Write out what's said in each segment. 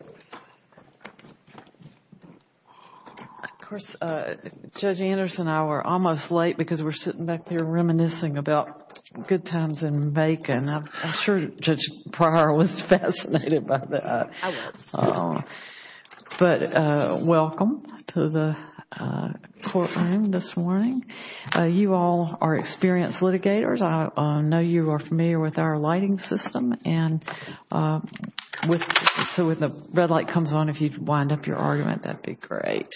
Of course, Judge Anderson and I were almost late because we're sitting back there reminiscing about good times in Macon. I'm sure Judge Pryor was fascinated by that, but welcome to the courtroom this morning. You all are experienced litigators. I know you are familiar with our lighting system, and so when the red light comes on, if you'd wind up your argument, that'd be great.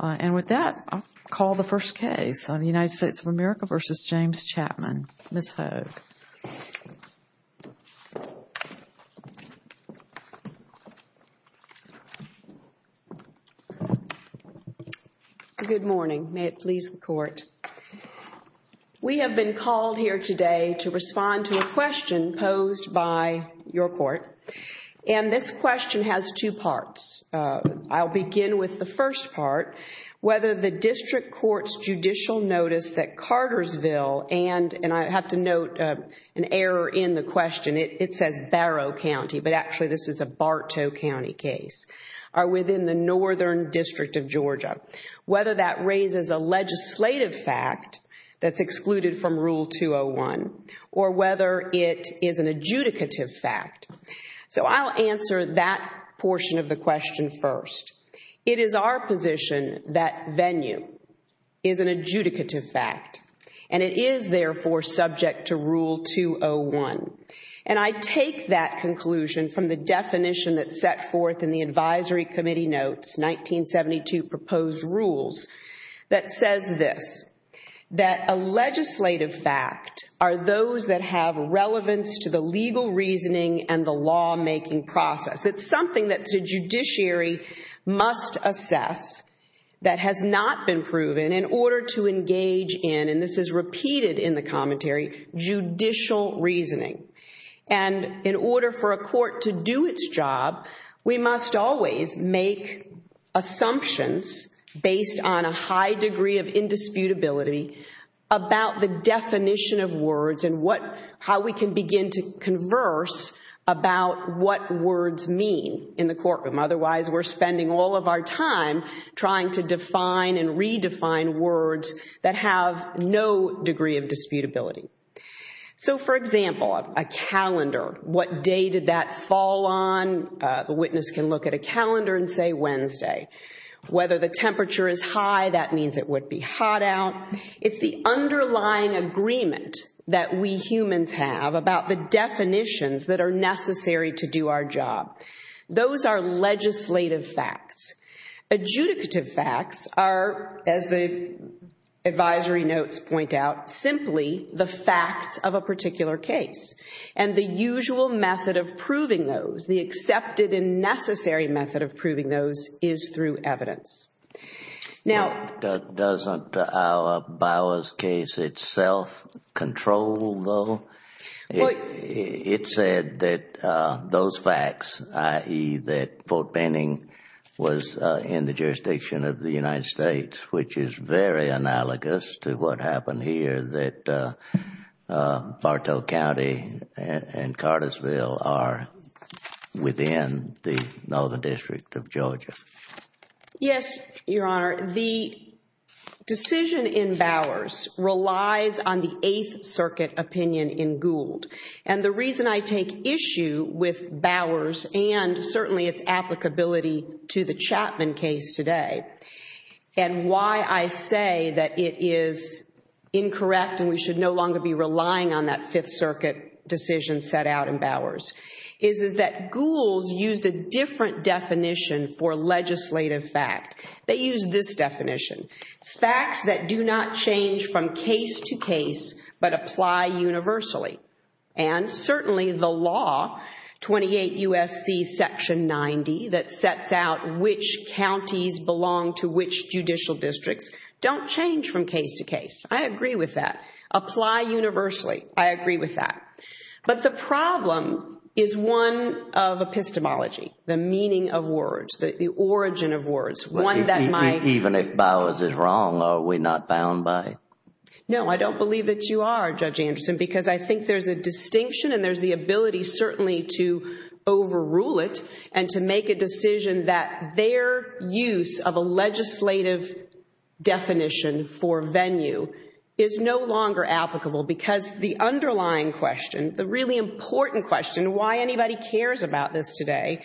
And with that, I'll call the first case on the United States of America v. James Chapman. Ms. Hogue. Good morning. May it please the Court. We have been called here today to respond to a question posed by your Court, and this question has two parts. I'll begin with the first part, whether the district court's judicial notice that Cartersville, and I have to note an error in the question, it says Barrow County, but actually this is a Bartow County case, are within the Northern District of Georgia, whether that raises a legislative fact that's excluded from Rule 201, or whether it is an adjudicative fact. So I'll answer that portion of the question first. It is our position that venue is an adjudicative fact, and it is therefore subject to Rule 201. And I take that conclusion from the definition that's set forth in the advisory committee notes, 1972 proposed rules, that says this, that a legislative fact are those that have relevance to the legal reasoning and the lawmaking process. It's something that the judiciary must assess that has not been proven in order to engage in, and this is repeated in the commentary, judicial reasoning. And in order for a court to do its job, we must always make assumptions based on a high degree of indisputability about the definition of words and how we can begin to converse about what words mean in the courtroom. Otherwise, we're spending all of our time trying to define and redefine words that have no degree of disputability. So for example, a calendar, what day did that fall on? The witness can look at a calendar and say Wednesday. Whether the temperature is high, that means it would be hot out. It's the underlying agreement that we humans have about the definitions that are necessary to do our job. Those are legislative facts. Adjudicative facts are, as the advisory notes point out, simply the facts of a particular case. And the usual method of proving those, the accepted and necessary method of proving those is through evidence. Now... Doesn't our Bowers case itself control, though? It said that those facts, i.e. that Fort Benning was in the jurisdiction of the United States, which is very analogous to what happened here, that Bartow County and Cartersville are within the Northern District of Georgia. Yes, Your Honor. The decision in Bowers relies on the Eighth Circuit opinion in Gould. And the reason I take issue with Bowers and certainly its applicability to the Chapman case today, and why I say that it is incorrect and we should no longer be relying on that Fifth definition for legislative fact. They use this definition. Facts that do not change from case to case, but apply universally. And certainly the law, 28 U.S.C. Section 90, that sets out which counties belong to which judicial districts, don't change from case to case. I agree with that. Apply universally. I agree with that. But the problem is one of epistemology, the meaning of words, the origin of words, one that might... Even if Bowers is wrong, are we not bound by... No, I don't believe that you are, Judge Anderson, because I think there's a distinction and there's the ability certainly to overrule it and to make a decision that their use of The really important question, why anybody cares about this today,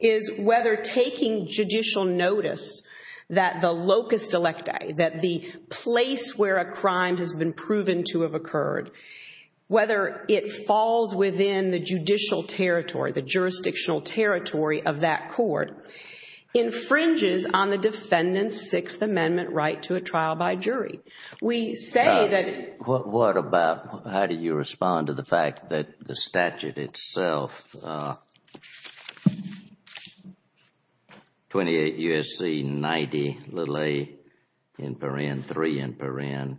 is whether taking judicial notice that the locus delectae, that the place where a crime has been proven to have occurred, whether it falls within the judicial territory, the jurisdictional territory of that court, infringes on the defendant's Sixth Amendment right to a trial by jury. We say that... What about... How do you respond to the fact that the statute itself, 28 U.S.C. 90 little a in paren, three in paren,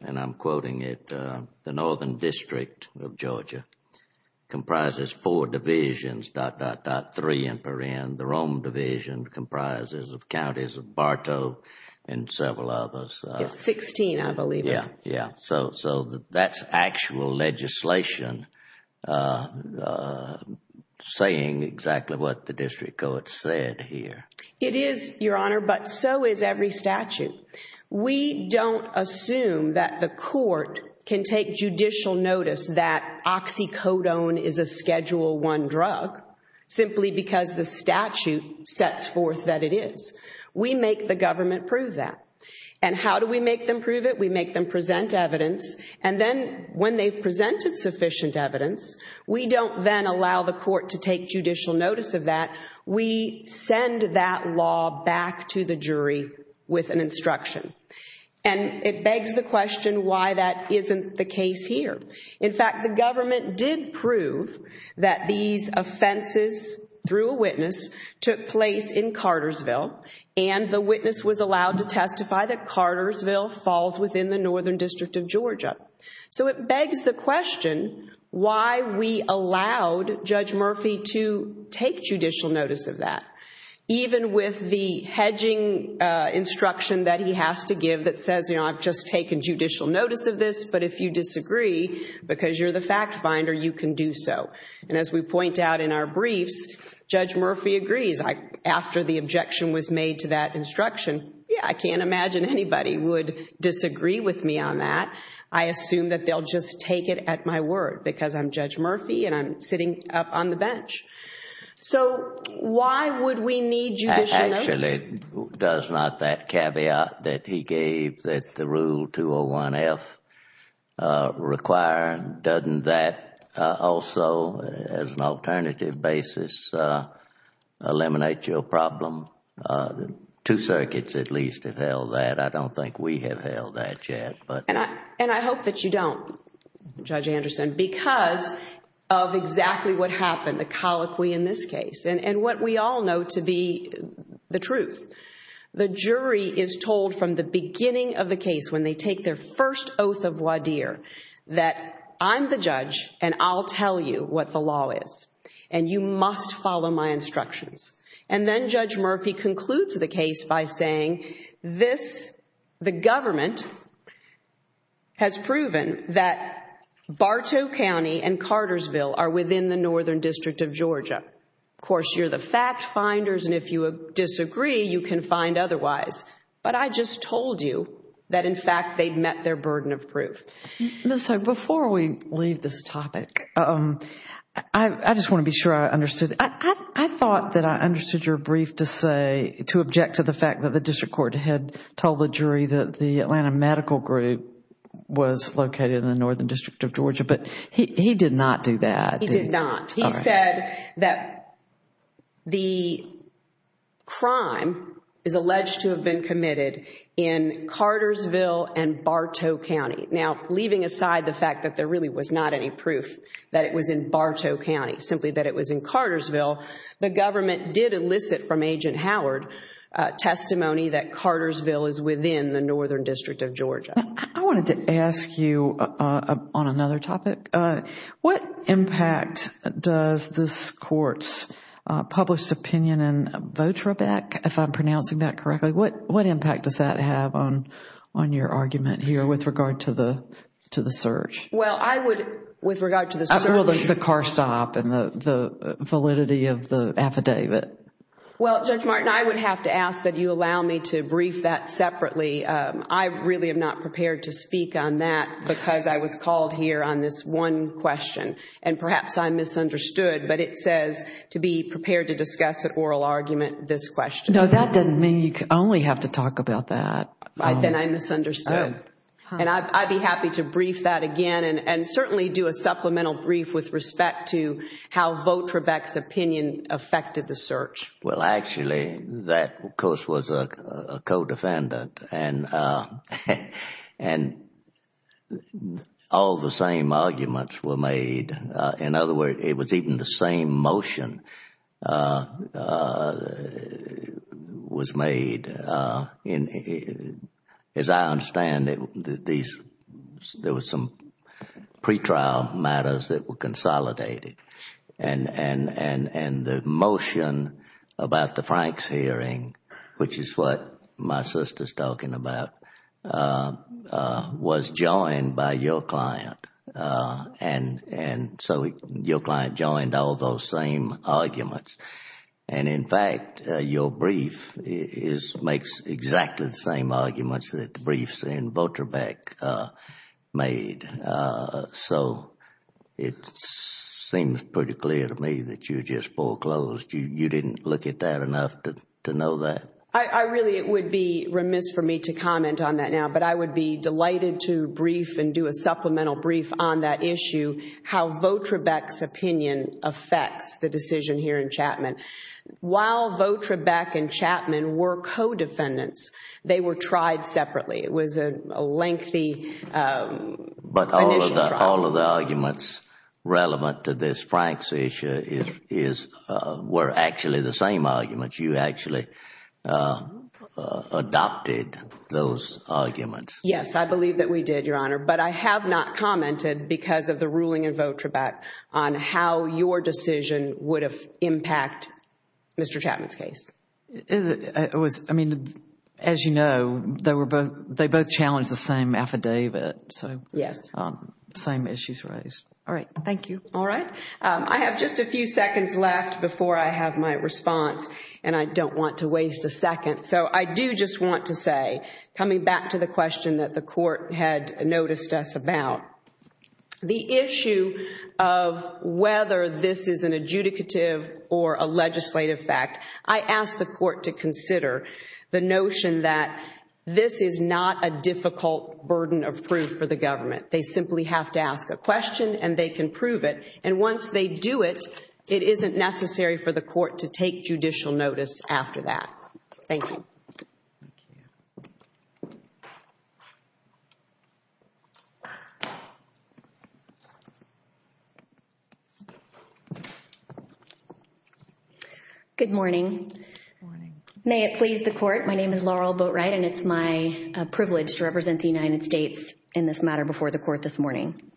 and I'm quoting it, the Northern District of Georgia comprises four divisions, dot, dot, dot, three in paren. The Rome Division comprises of counties of Bartow and several others. Sixteen, I believe. Yeah, yeah. So that's actual legislation saying exactly what the district court said here. It is, Your Honor, but so is every statute. We don't assume that the court can take judicial notice that oxycodone is a Schedule I drug simply because the statute sets forth that it is. We make the government prove that. And how do we make them prove it? We make them present evidence, and then when they've presented sufficient evidence, we don't then allow the court to take judicial notice of that. We send that law back to the jury with an instruction. And it begs the question why that isn't the case here. In fact, the government did prove that these offenses through a witness took place in Cartersville, and the witness was allowed to testify that Cartersville falls within the Northern District of Georgia. So it begs the question why we allowed Judge Murphy to take judicial notice of that, even with the hedging instruction that he has to give that says, you know, I've just taken judicial notice of this, but if you disagree because you're the fact finder, you can do so. And as we point out in our briefs, Judge Murphy agrees. After the objection was made to that instruction, yeah, I can't imagine anybody would disagree with me on that. I assume that they'll just take it at my word because I'm Judge Murphy, and I'm sitting up on the bench. So why would we need judicial notice? Actually, does not that caveat that he gave that the Rule 201-F require? Doesn't that also as an alternative basis eliminate your problem? Two circuits at least have held that. I don't think we have held that yet. And I hope that you don't, Judge Anderson, because of exactly what happened, the colloquy in this case, and what we all know to be the truth. The jury is told from the beginning of the case when they take their first oath of voir dire that I'm the judge and I'll tell you what the law is, and you must follow my instructions. And then Judge Murphy concludes the case by saying this, the government has proven that Bartow County and Cartersville are within the Northern District of Georgia. Of course, you're the fact finders, and if you disagree, you can find otherwise. But I just told you that in fact they've met their burden of proof. Ms. Hogue, before we leave this topic, I just want to be sure I understood. I thought that I understood your brief to say, to object to the fact that the district court had told the jury that the Atlanta Medical Group was located in the Northern District of Georgia, but he did not do that. He did not. He said that the crime is alleged to have been committed in Cartersville and Bartow County. Now, leaving aside the fact that there really was not any proof that it was in Bartow County, simply that it was in Cartersville, the government did elicit from Agent Howard testimony that Cartersville is within the Northern District of Georgia. I wanted to ask you on another topic. What impact does this court's published opinion in Votrabeck, if I'm pronouncing that correctly, what impact does that have on your argument here with regard to the search? Well, I would, with regard to the search. The car stop and the validity of the affidavit. Well, Judge Martin, I would have to ask that you allow me to brief that separately. I really am not prepared to speak on that because I was called here on this one question. And perhaps I misunderstood, but it says to be prepared to discuss at oral argument this question. No, that doesn't mean you only have to talk about that. Then I misunderstood. And I'd be happy to brief that again and certainly do a supplemental brief with respect to how Votrabeck's opinion affected the search. Well, actually, that, of course, was a co-defendant. And all the same arguments were made. In other words, it was even the same motion was made. As I understand it, there were some pretrial matters that were consolidated. And the motion about the Franks hearing, which is what my sister is talking about, was joined by your client. And so your client joined all those same arguments. And, in fact, your brief makes exactly the same arguments that the briefs and Votrabeck made. So it seems pretty clear to me that you just foreclosed. You didn't look at that enough to know that. I really would be remiss for me to comment on that now. But I would be delighted to brief and do a supplemental brief on that issue, how Votrabeck's opinion affects the decision here in Chapman. While Votrabeck and Chapman were co-defendants, they were tried separately. It was a lengthy initial trial. But all of the arguments relevant to this Franks issue were actually the same arguments. You actually adopted those arguments. Yes, I believe that we did, Your Honor. But I have not commented, because of the ruling in Votrabeck, on how your decision would have impacted Mr. Chapman's case. I mean, as you know, they both challenged the same affidavit, so the same issues raised. All right. Thank you. All right. I have just a few seconds left before I have my response, and I don't want to waste a second. So I do just want to say, coming back to the question that the Court had noticed us about, the issue of whether this is an adjudicative or a legislative fact, I ask the Court to consider the notion that this is not a difficult burden of proof for the government. They simply have to ask a question, and they can prove it. And once they do it, it isn't necessary for the Court to take judicial notice after that. Thank you. Thank you. Good morning. Good morning. May it please the Court, my name is Laurel Boatwright, and it's my privilege to represent the United States in this matter before the Court this morning.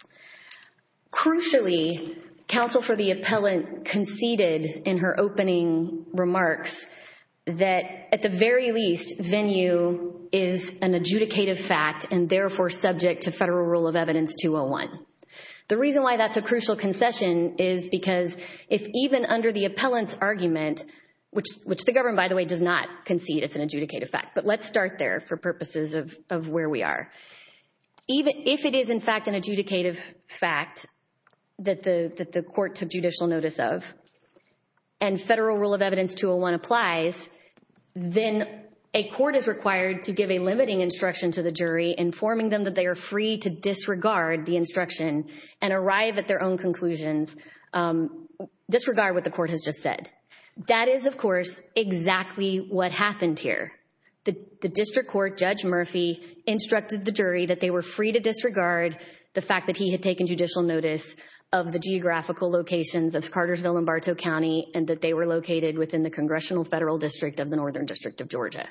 Crucially, counsel for the appellant conceded in her opening remarks that, at the very least, venue is an adjudicative fact and therefore subject to Federal Rule of Evidence 201. The reason why that's a crucial concession is because if even under the appellant's argument, which the government, by the way, does not concede it's an adjudicative fact, but let's start there for purposes of where we are. If it is, in fact, an adjudicative fact that the Court took judicial notice of and Federal Rule of Evidence 201 applies, then a court is required to give a limiting instruction to the jury, informing them that they are free to disregard the instruction and arrive at their own conclusions, disregard what the Court has just said. That is, of course, the Court, Judge Murphy, instructed the jury that they were free to disregard the fact that he had taken judicial notice of the geographical locations of Cartersville and Bartow County and that they were located within the Congressional Federal District of the Northern District of Georgia.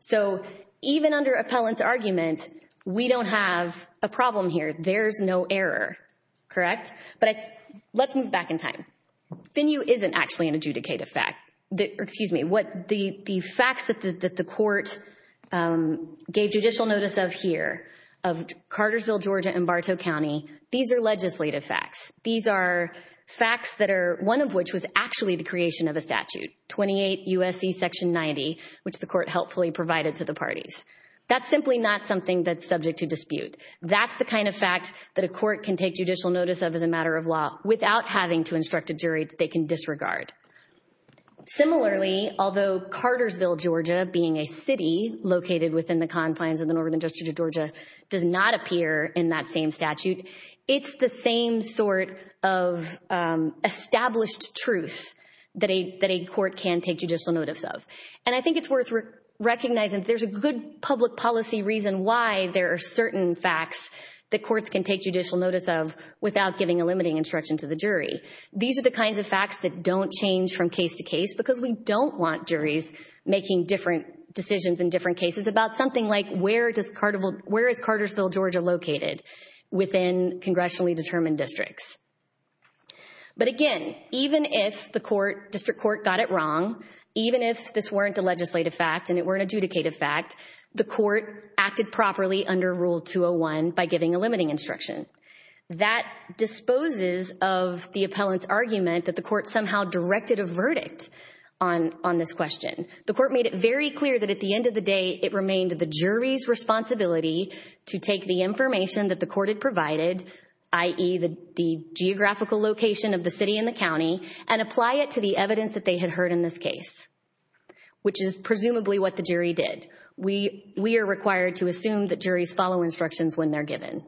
So even under appellant's argument, we don't have a problem here. There's no error, correct? But let's move back in time. Venue isn't actually an adjudicative fact. Excuse me. The facts that the Court gave judicial notice of here, of Cartersville, Georgia, and Bartow County, these are legislative facts. These are facts that are, one of which was actually the creation of a statute, 28 U.S.C. Section 90, which the Court helpfully provided to the parties. That's simply not something that's subject to dispute. That's the kind of fact that a court can take judicial notice of as a matter of law without having to instruct a jury that they can disregard. Similarly, although Cartersville, Georgia, being a city located within the confines of the Northern District of Georgia, does not appear in that same statute, it's the same sort of established truth that a court can take judicial notice of. And I think it's worth recognizing there's a good public policy reason why there are certain facts that courts can take judicial notice of without giving a limiting instruction to the jury. These are the kinds of facts that don't change from case to case because we don't want juries making different decisions in different cases about something like where is Cartersville, Georgia, located within congressionally determined districts. But again, even if the District Court got it wrong, even if this weren't a legislative fact and it weren't an adjudicative fact, the Court acted properly under Rule 201 by giving a limiting instruction. That disposes of the appellant's argument that the Court somehow directed a verdict on this question. The Court made it very clear that at the end of the day, it remained the jury's responsibility to take the information that the Court had provided, i.e., the geographical location of the city and the county, and apply it to the evidence that they had heard in this case, which is presumably what the jury did. We are required to assume that juries follow instructions when they're given.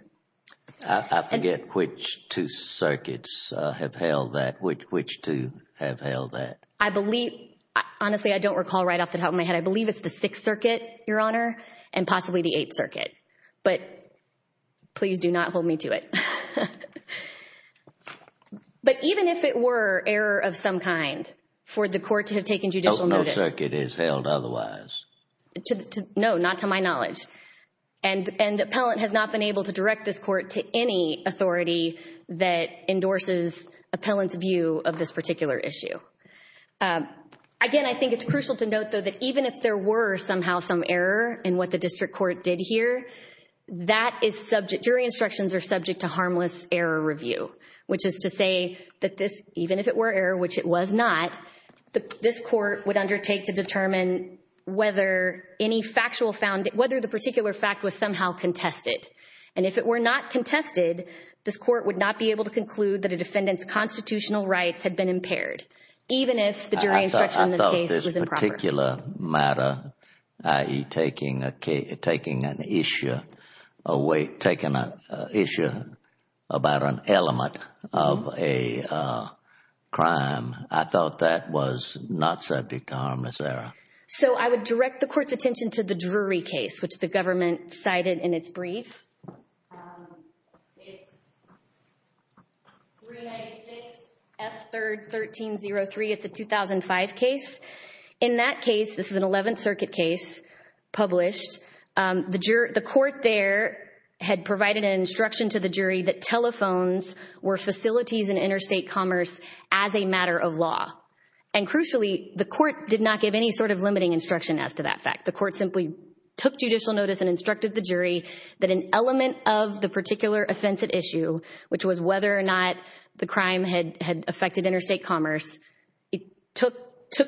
I forget which two circuits have held that, which two have held that. I believe, honestly, I don't recall right off the top of my head. I believe it's the Sixth Circuit, Your Honor, and possibly the Eighth Circuit. But please do not hold me to it. But even if it were error of some kind for the Court to have taken judicial notice — Sixth Circuit is held otherwise. No, not to my knowledge. And the appellant has not been able to direct this Court to any authority that endorses the appellant's view of this particular issue. Again, I think it's crucial to note, though, that even if there were somehow some error in what the district court did here, that is subject — jury instructions are subject to harmless error review, which is to say that this, even if it were error, which it was not, this Court would undertake to determine whether any factual — whether the particular fact was somehow contested. And if it were not contested, this Court would not be able to conclude that a defendant's constitutional rights had been impaired, even if the jury instruction in this case was improper. I thought this particular matter, i.e. taking an issue away — taking an issue about an element of a crime, I thought that was not subject to harmless error. So I would direct the Court's attention to the Drury case, which the government cited in its brief. It's 396 F. 3rd. 1303. It's a 2005 case. In that case — this is an Eleventh Circuit case published — the court there had provided an instruction to the jury that telephones were facilities in interstate commerce as a matter of law. And crucially, the Court did not give any sort of limiting instruction as to that fact. The Court simply took judicial notice and instructed the jury that an element of the particular offensive issue, which was whether or not the crime had affected interstate commerce, it took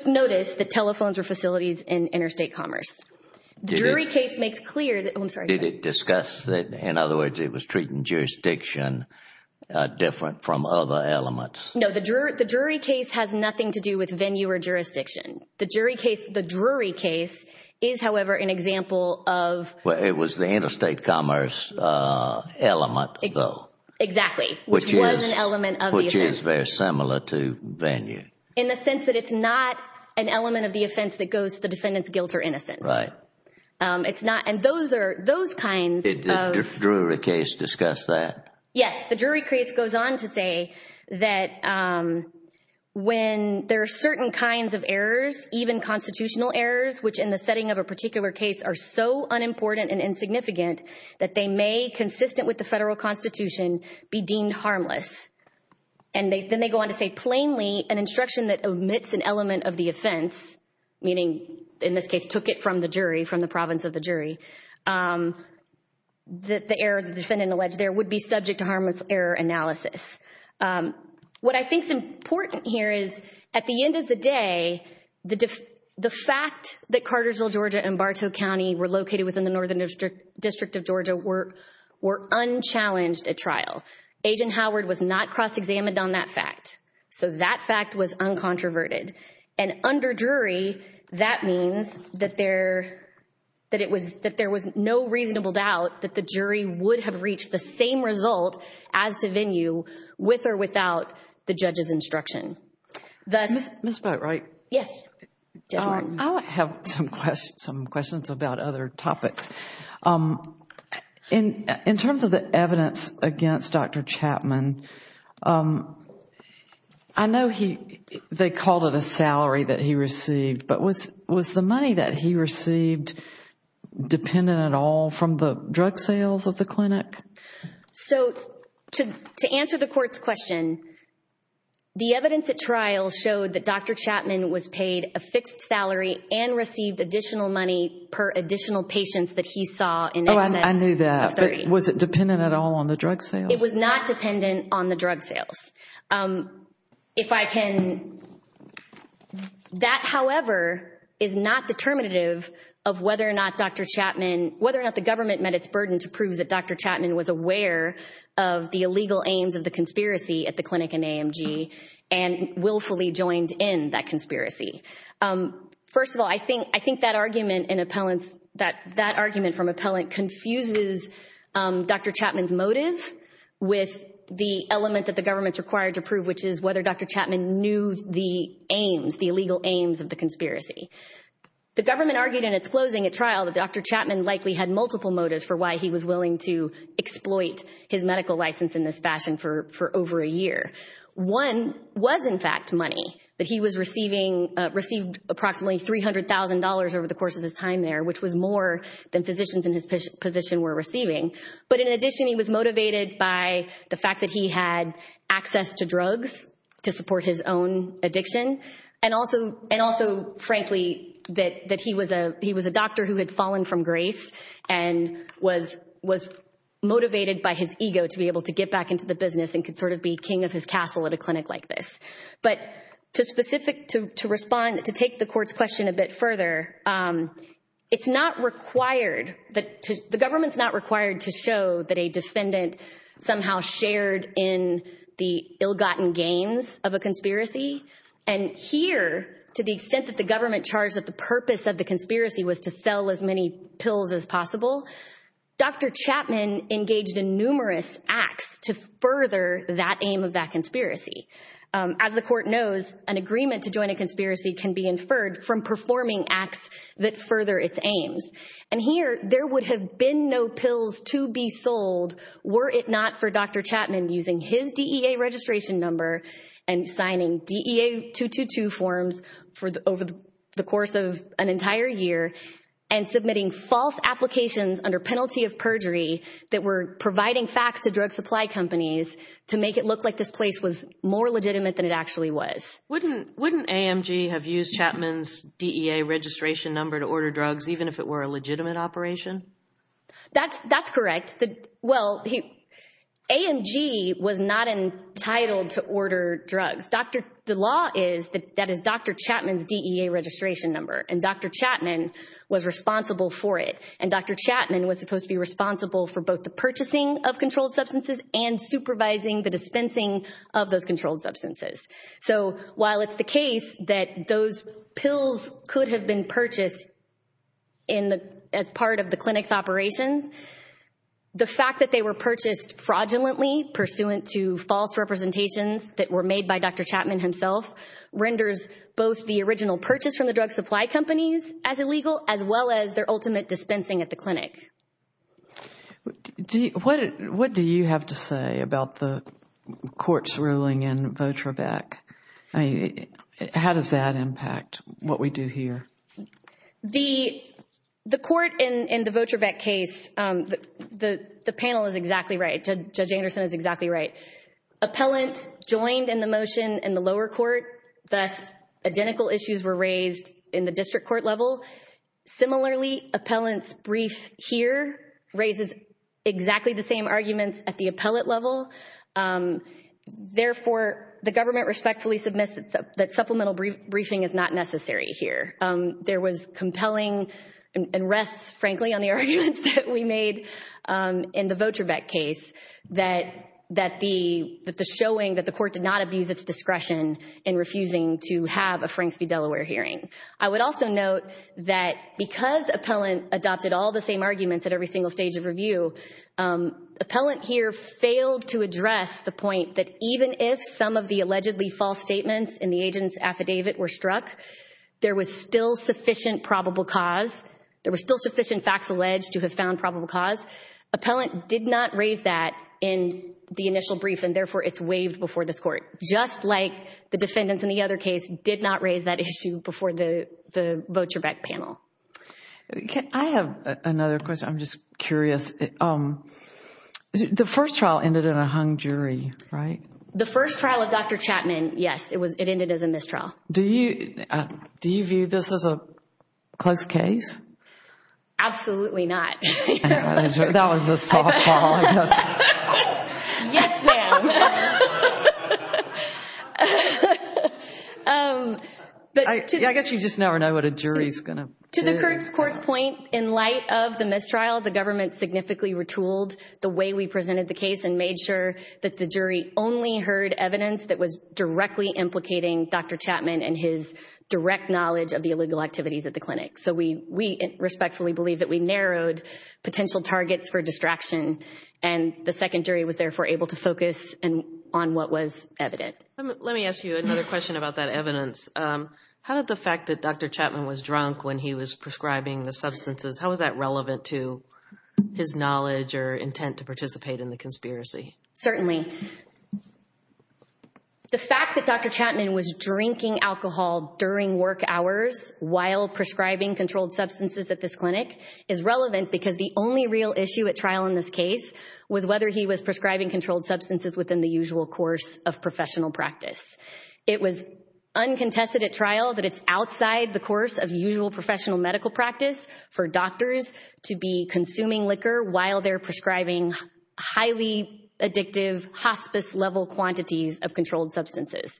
notice that telephones were facilities in interstate commerce. The Drury case makes clear that — I'm sorry, Judge. They didn't discuss it. In other words, it was treating jurisdiction different from other elements. No. The Drury case has nothing to do with venue or jurisdiction. The Drury case is, however, an example of — Well, it was the interstate commerce element, though, which is very similar to venue. In the sense that it's not an element of the offense that goes to the defendant's guilt or innocence. Right. It's not — and those are — those kinds of — Did the Drury case discuss that? Yes. The Drury case goes on to say that when there are certain kinds of errors, even constitutional errors, which in the setting of a particular case are so unimportant and insignificant that they may, consistent with the federal Constitution, be deemed harmless. And then they go on to say, plainly, an instruction that omits an element of the offense, meaning, in this case, took it from the jury, from the province of the jury, that the error the defendant alleged there would be subject to harmless error analysis. What I think is important here is at the end of the day, the fact that Cartersville, Georgia and Bartow County were located within the Northern District of Georgia were unchallenged at trial. Agent Howard was not cross-examined on that fact. So that fact was uncontroverted. And under Drury, that means that there — that it was — that there was no reasonable doubt that the jury would have reached the same result as to venue with or without the judge's instruction. Ms. Boatwright. Yes. Judge Warren. I have some questions about other topics. In terms of the evidence against Dr. Chapman, I know he — they called it a salary that he received, but was — was the money that he received dependent at all from the drug sales of the clinic? So to — to answer the court's question, the evidence at trial showed that Dr. Chapman was paid a fixed salary and received additional money per additional patients that he saw in excess. Oh, I knew that. Of 30. Was it dependent at all on the drug sales? It was not dependent on the drug sales. If I can — that, however, is not determinative of whether or not Dr. Chapman — whether or not the government met its burden to prove that Dr. Chapman was aware of the illegal aims of the conspiracy at the clinic in AMG and willfully joined in that conspiracy. First of all, I think — I think that argument in appellant's — that with the element that the government's required to prove, which is whether Dr. Chapman knew the aims, the illegal aims of the conspiracy. The government argued in its closing at trial that Dr. Chapman likely had multiple motives for why he was willing to exploit his medical license in this fashion for — for over a year. One was, in fact, money that he was receiving — received approximately $300,000 over the course of his time there, which was more than physicians in his position were receiving. But in addition, he was motivated by the fact that he had access to drugs to support his own addiction and also — and also, frankly, that — that he was a — he was a doctor who had fallen from grace and was — was motivated by his ego to be able to get back into the business and could sort of be king of his castle at a clinic like this. But to specific — to respond — to take the court's question a bit further, it's not required that — the government's not required to show that a defendant somehow shared in the ill-gotten gains of a conspiracy. And here, to the extent that the government charged that the purpose of the conspiracy was to sell as many pills as possible, Dr. Chapman engaged in numerous acts to further that aim of that conspiracy. As the court knows, an agreement to join a conspiracy can be inferred from performing acts that further its aims. And here, there would have been no pills to be sold were it not for Dr. Chapman using his DEA registration number and signing DEA 222 forms for the — over the course of an entire year and submitting false applications under penalty of perjury that were providing facts to drug supply companies to make it look like this place was more legitimate than it actually was. Wouldn't — wouldn't AMG have used Chapman's DEA registration number to order drugs, even if it were a legitimate operation? That's — that's correct. The — well, he — AMG was not entitled to order drugs. Dr. — the law is that that is Dr. Chapman's DEA registration number, and Dr. Chapman was responsible for it. And Dr. Chapman was supposed to be responsible for both the purchasing of controlled substances and supervising the dispensing of those controlled substances. So while it's the case that those pills could have been purchased in the — as part of the clinic's operations, the fact that they were purchased fraudulently pursuant to false representations that were made by Dr. Chapman himself renders both the original purchase from the drug supply companies as illegal, as well as their ultimate dispensing at the clinic. Do you — what — what do you have to say about the court's ruling in Votravac? I mean, how does that impact what we do here? The — the court in — in the Votravac case, the — the panel is exactly right. Judge Anderson is exactly right. Appellant joined in the motion in the lower court, thus identical issues were raised in the district court level. Similarly, appellant's brief here raises exactly the same arguments at the appellate level. Therefore, the government respectfully submits that supplemental briefing is not necessary here. There was compelling — and rests, frankly, on the arguments that we made in the Votravac case that — that the — that the showing that the court did not abuse its discretion in refusing to have a Franks v. Delaware hearing. I would also note that because appellant adopted all the same arguments at every single stage of review, appellant here failed to address the point that even if some of the allegedly false statements in the agent's affidavit were struck, there was still sufficient probable cause — there were still sufficient facts alleged to have found probable cause. Appellant did not raise that in the initial brief, and therefore it's waived before this court, just like the defendants in the other case did not raise that issue before the Votravac panel. I have another question. I'm just curious. The first trial ended in a hung jury, right? The first trial of Dr. Chapman, yes. It was — it ended as a mistrial. Do you — do you view this as a close case? Absolutely not. That was a softball, I guess. Yes, ma'am. I guess you just never know what a jury's going to — To the court's point, in light of the mistrial, the government significantly retooled the way we presented the case and made sure that the jury only heard evidence that was directly implicating Dr. Chapman and his direct knowledge of the illegal activities at the clinic. So we respectfully believe that we narrowed potential targets for distraction, and the second jury was therefore able to focus on what was evident. Let me ask you another question about that evidence. How did the fact that Dr. Chapman was drunk when he was prescribing the substances, how was that relevant to his knowledge or intent to participate in the conspiracy? Certainly. The fact that Dr. Chapman was drinking alcohol during work hours while prescribing controlled substances at this clinic is relevant because the only real issue at trial in this case was whether he was prescribing controlled substances within the usual course of professional practice. It was uncontested at trial that it's outside the course of usual professional medical practice for doctors to be consuming liquor while they're prescribing highly addictive hospice-level quantities of controlled substances.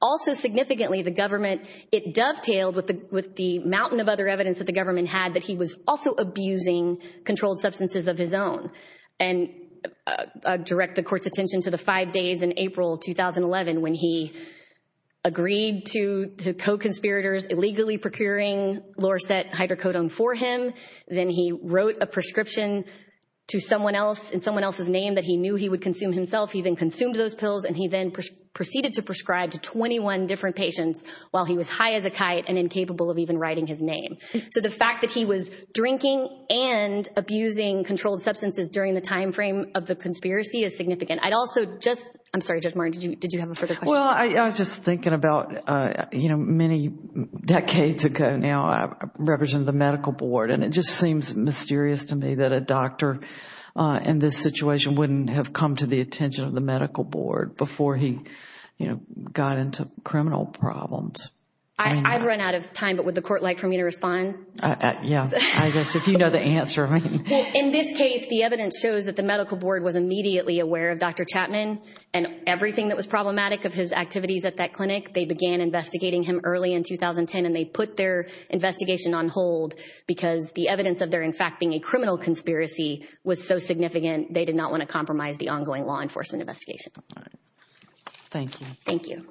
Also significantly, the government — it dovetailed with the mountain of other evidence that the government had that he was also abusing controlled substances of his own. And I direct the court's attention to the five days in April 2011 when he agreed to the co-conspirators illegally procuring Lorset Hydrocodone for him. Then he wrote a prescription to someone else in someone else's name that he knew he would consume himself. He then consumed those pills, and he then proceeded to prescribe to 21 different patients while he was high as a kite and incapable of even writing his name. So the fact that he was drinking and during the time frame of the conspiracy is significant. I'd also just — I'm sorry, Judge Martin, did you have a further question? Well, I was just thinking about, you know, many decades ago now, I represent the medical board, and it just seems mysterious to me that a doctor in this situation wouldn't have come to the attention of the medical board before he, you know, got into criminal problems. I've run out of time, but would the court like for me to respond? Yeah, I guess if you know the answer. In this case, the evidence shows that the medical board was immediately aware of Dr. Chapman and everything that was problematic of his activities at that clinic. They began investigating him early in 2010, and they put their investigation on hold because the evidence of there in fact being a criminal conspiracy was so significant they did not want to compromise the ongoing law enforcement investigation. Thank you. Thank you.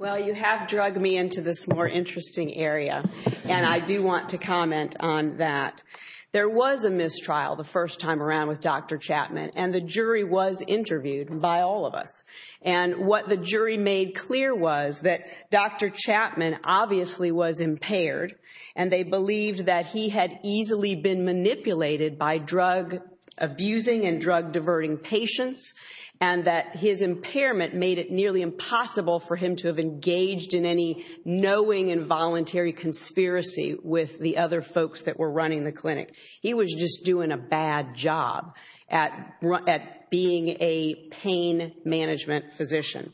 Well, you have drugged me into this more interesting area, and I do want to comment on that. There was a mistrial the first time around with Dr. Chapman, and the jury was interviewed by all of us. And what the jury made clear was that Dr. Chapman obviously was impaired, and they believed that he had easily been manipulated by drug-abusing and drug-diverting patients, and that his impairment made it nearly impossible for him to have engaged in any knowing involuntary conspiracy with the other folks that were running the clinic. He was just doing a bad job at being a pain management physician.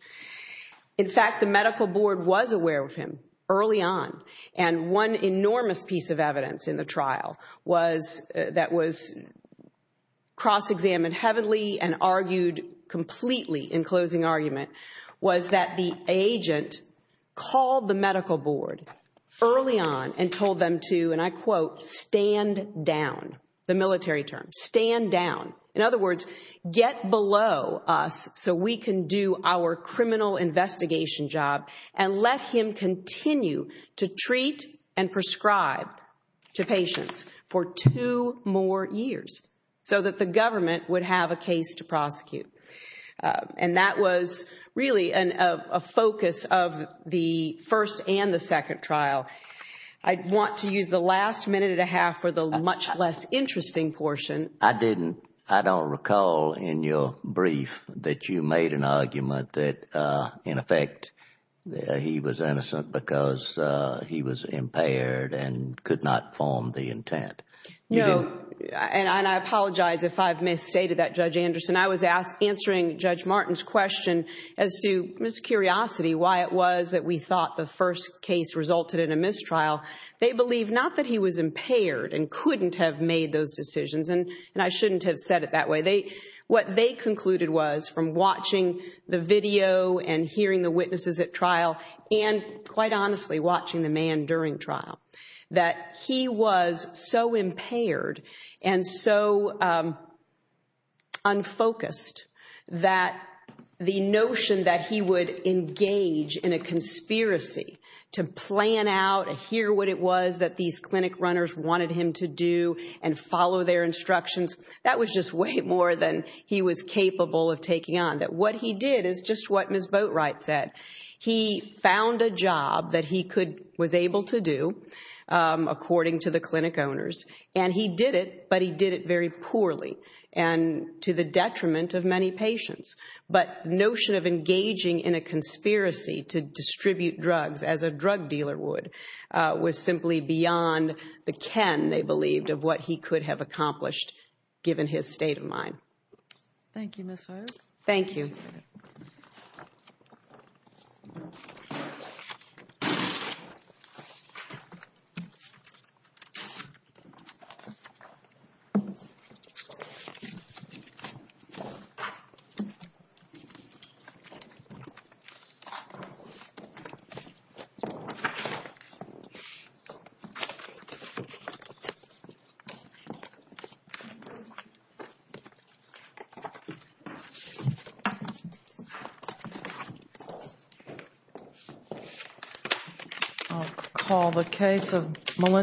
In fact, the medical board was aware of him early on, and one enormous piece of evidence in the trial that was cross-examined heavily and argued completely in closing argument was that the agent called the medical board early on and told them to, and I quote, stand down, the military term, stand down. In other words, get below us so we can do our for two more years so that the government would have a case to prosecute. And that was really a focus of the first and the second trial. I want to use the last minute and a half for the much less interesting portion. I didn't, I don't recall in your brief that you made an argument that, in effect, he was innocent because he was impaired and could not form the intent. No, and I apologize if I've misstated that, Judge Anderson. I was answering Judge Martin's question as to, Ms. Curiosity, why it was that we thought the first case resulted in a mistrial. They believe not that he was impaired and couldn't have made those decisions, and I shouldn't have said it that way. What they concluded was, from watching the video and hearing the witnesses at trial, and quite honestly, watching the man during trial, that he was so impaired and so unfocused that the notion that he would engage in a conspiracy to plan out, hear what it was that these clinic runners wanted him to do and follow their instructions, that was just way more than he was capable of taking on. What he did is just what Ms. Boatwright said. He found a job that he was able to do, according to the clinic owners, and he did it, but he did it very poorly and to the detriment of many patients. But the notion of engaging in a conspiracy to distribute drugs as a drug dealer would was simply beyond the ken, they believed, of what he could have accomplished, given his state of mind. Thank you, Ms. Hoyer. Thank you. Thank you. I'll call the case of Melinda.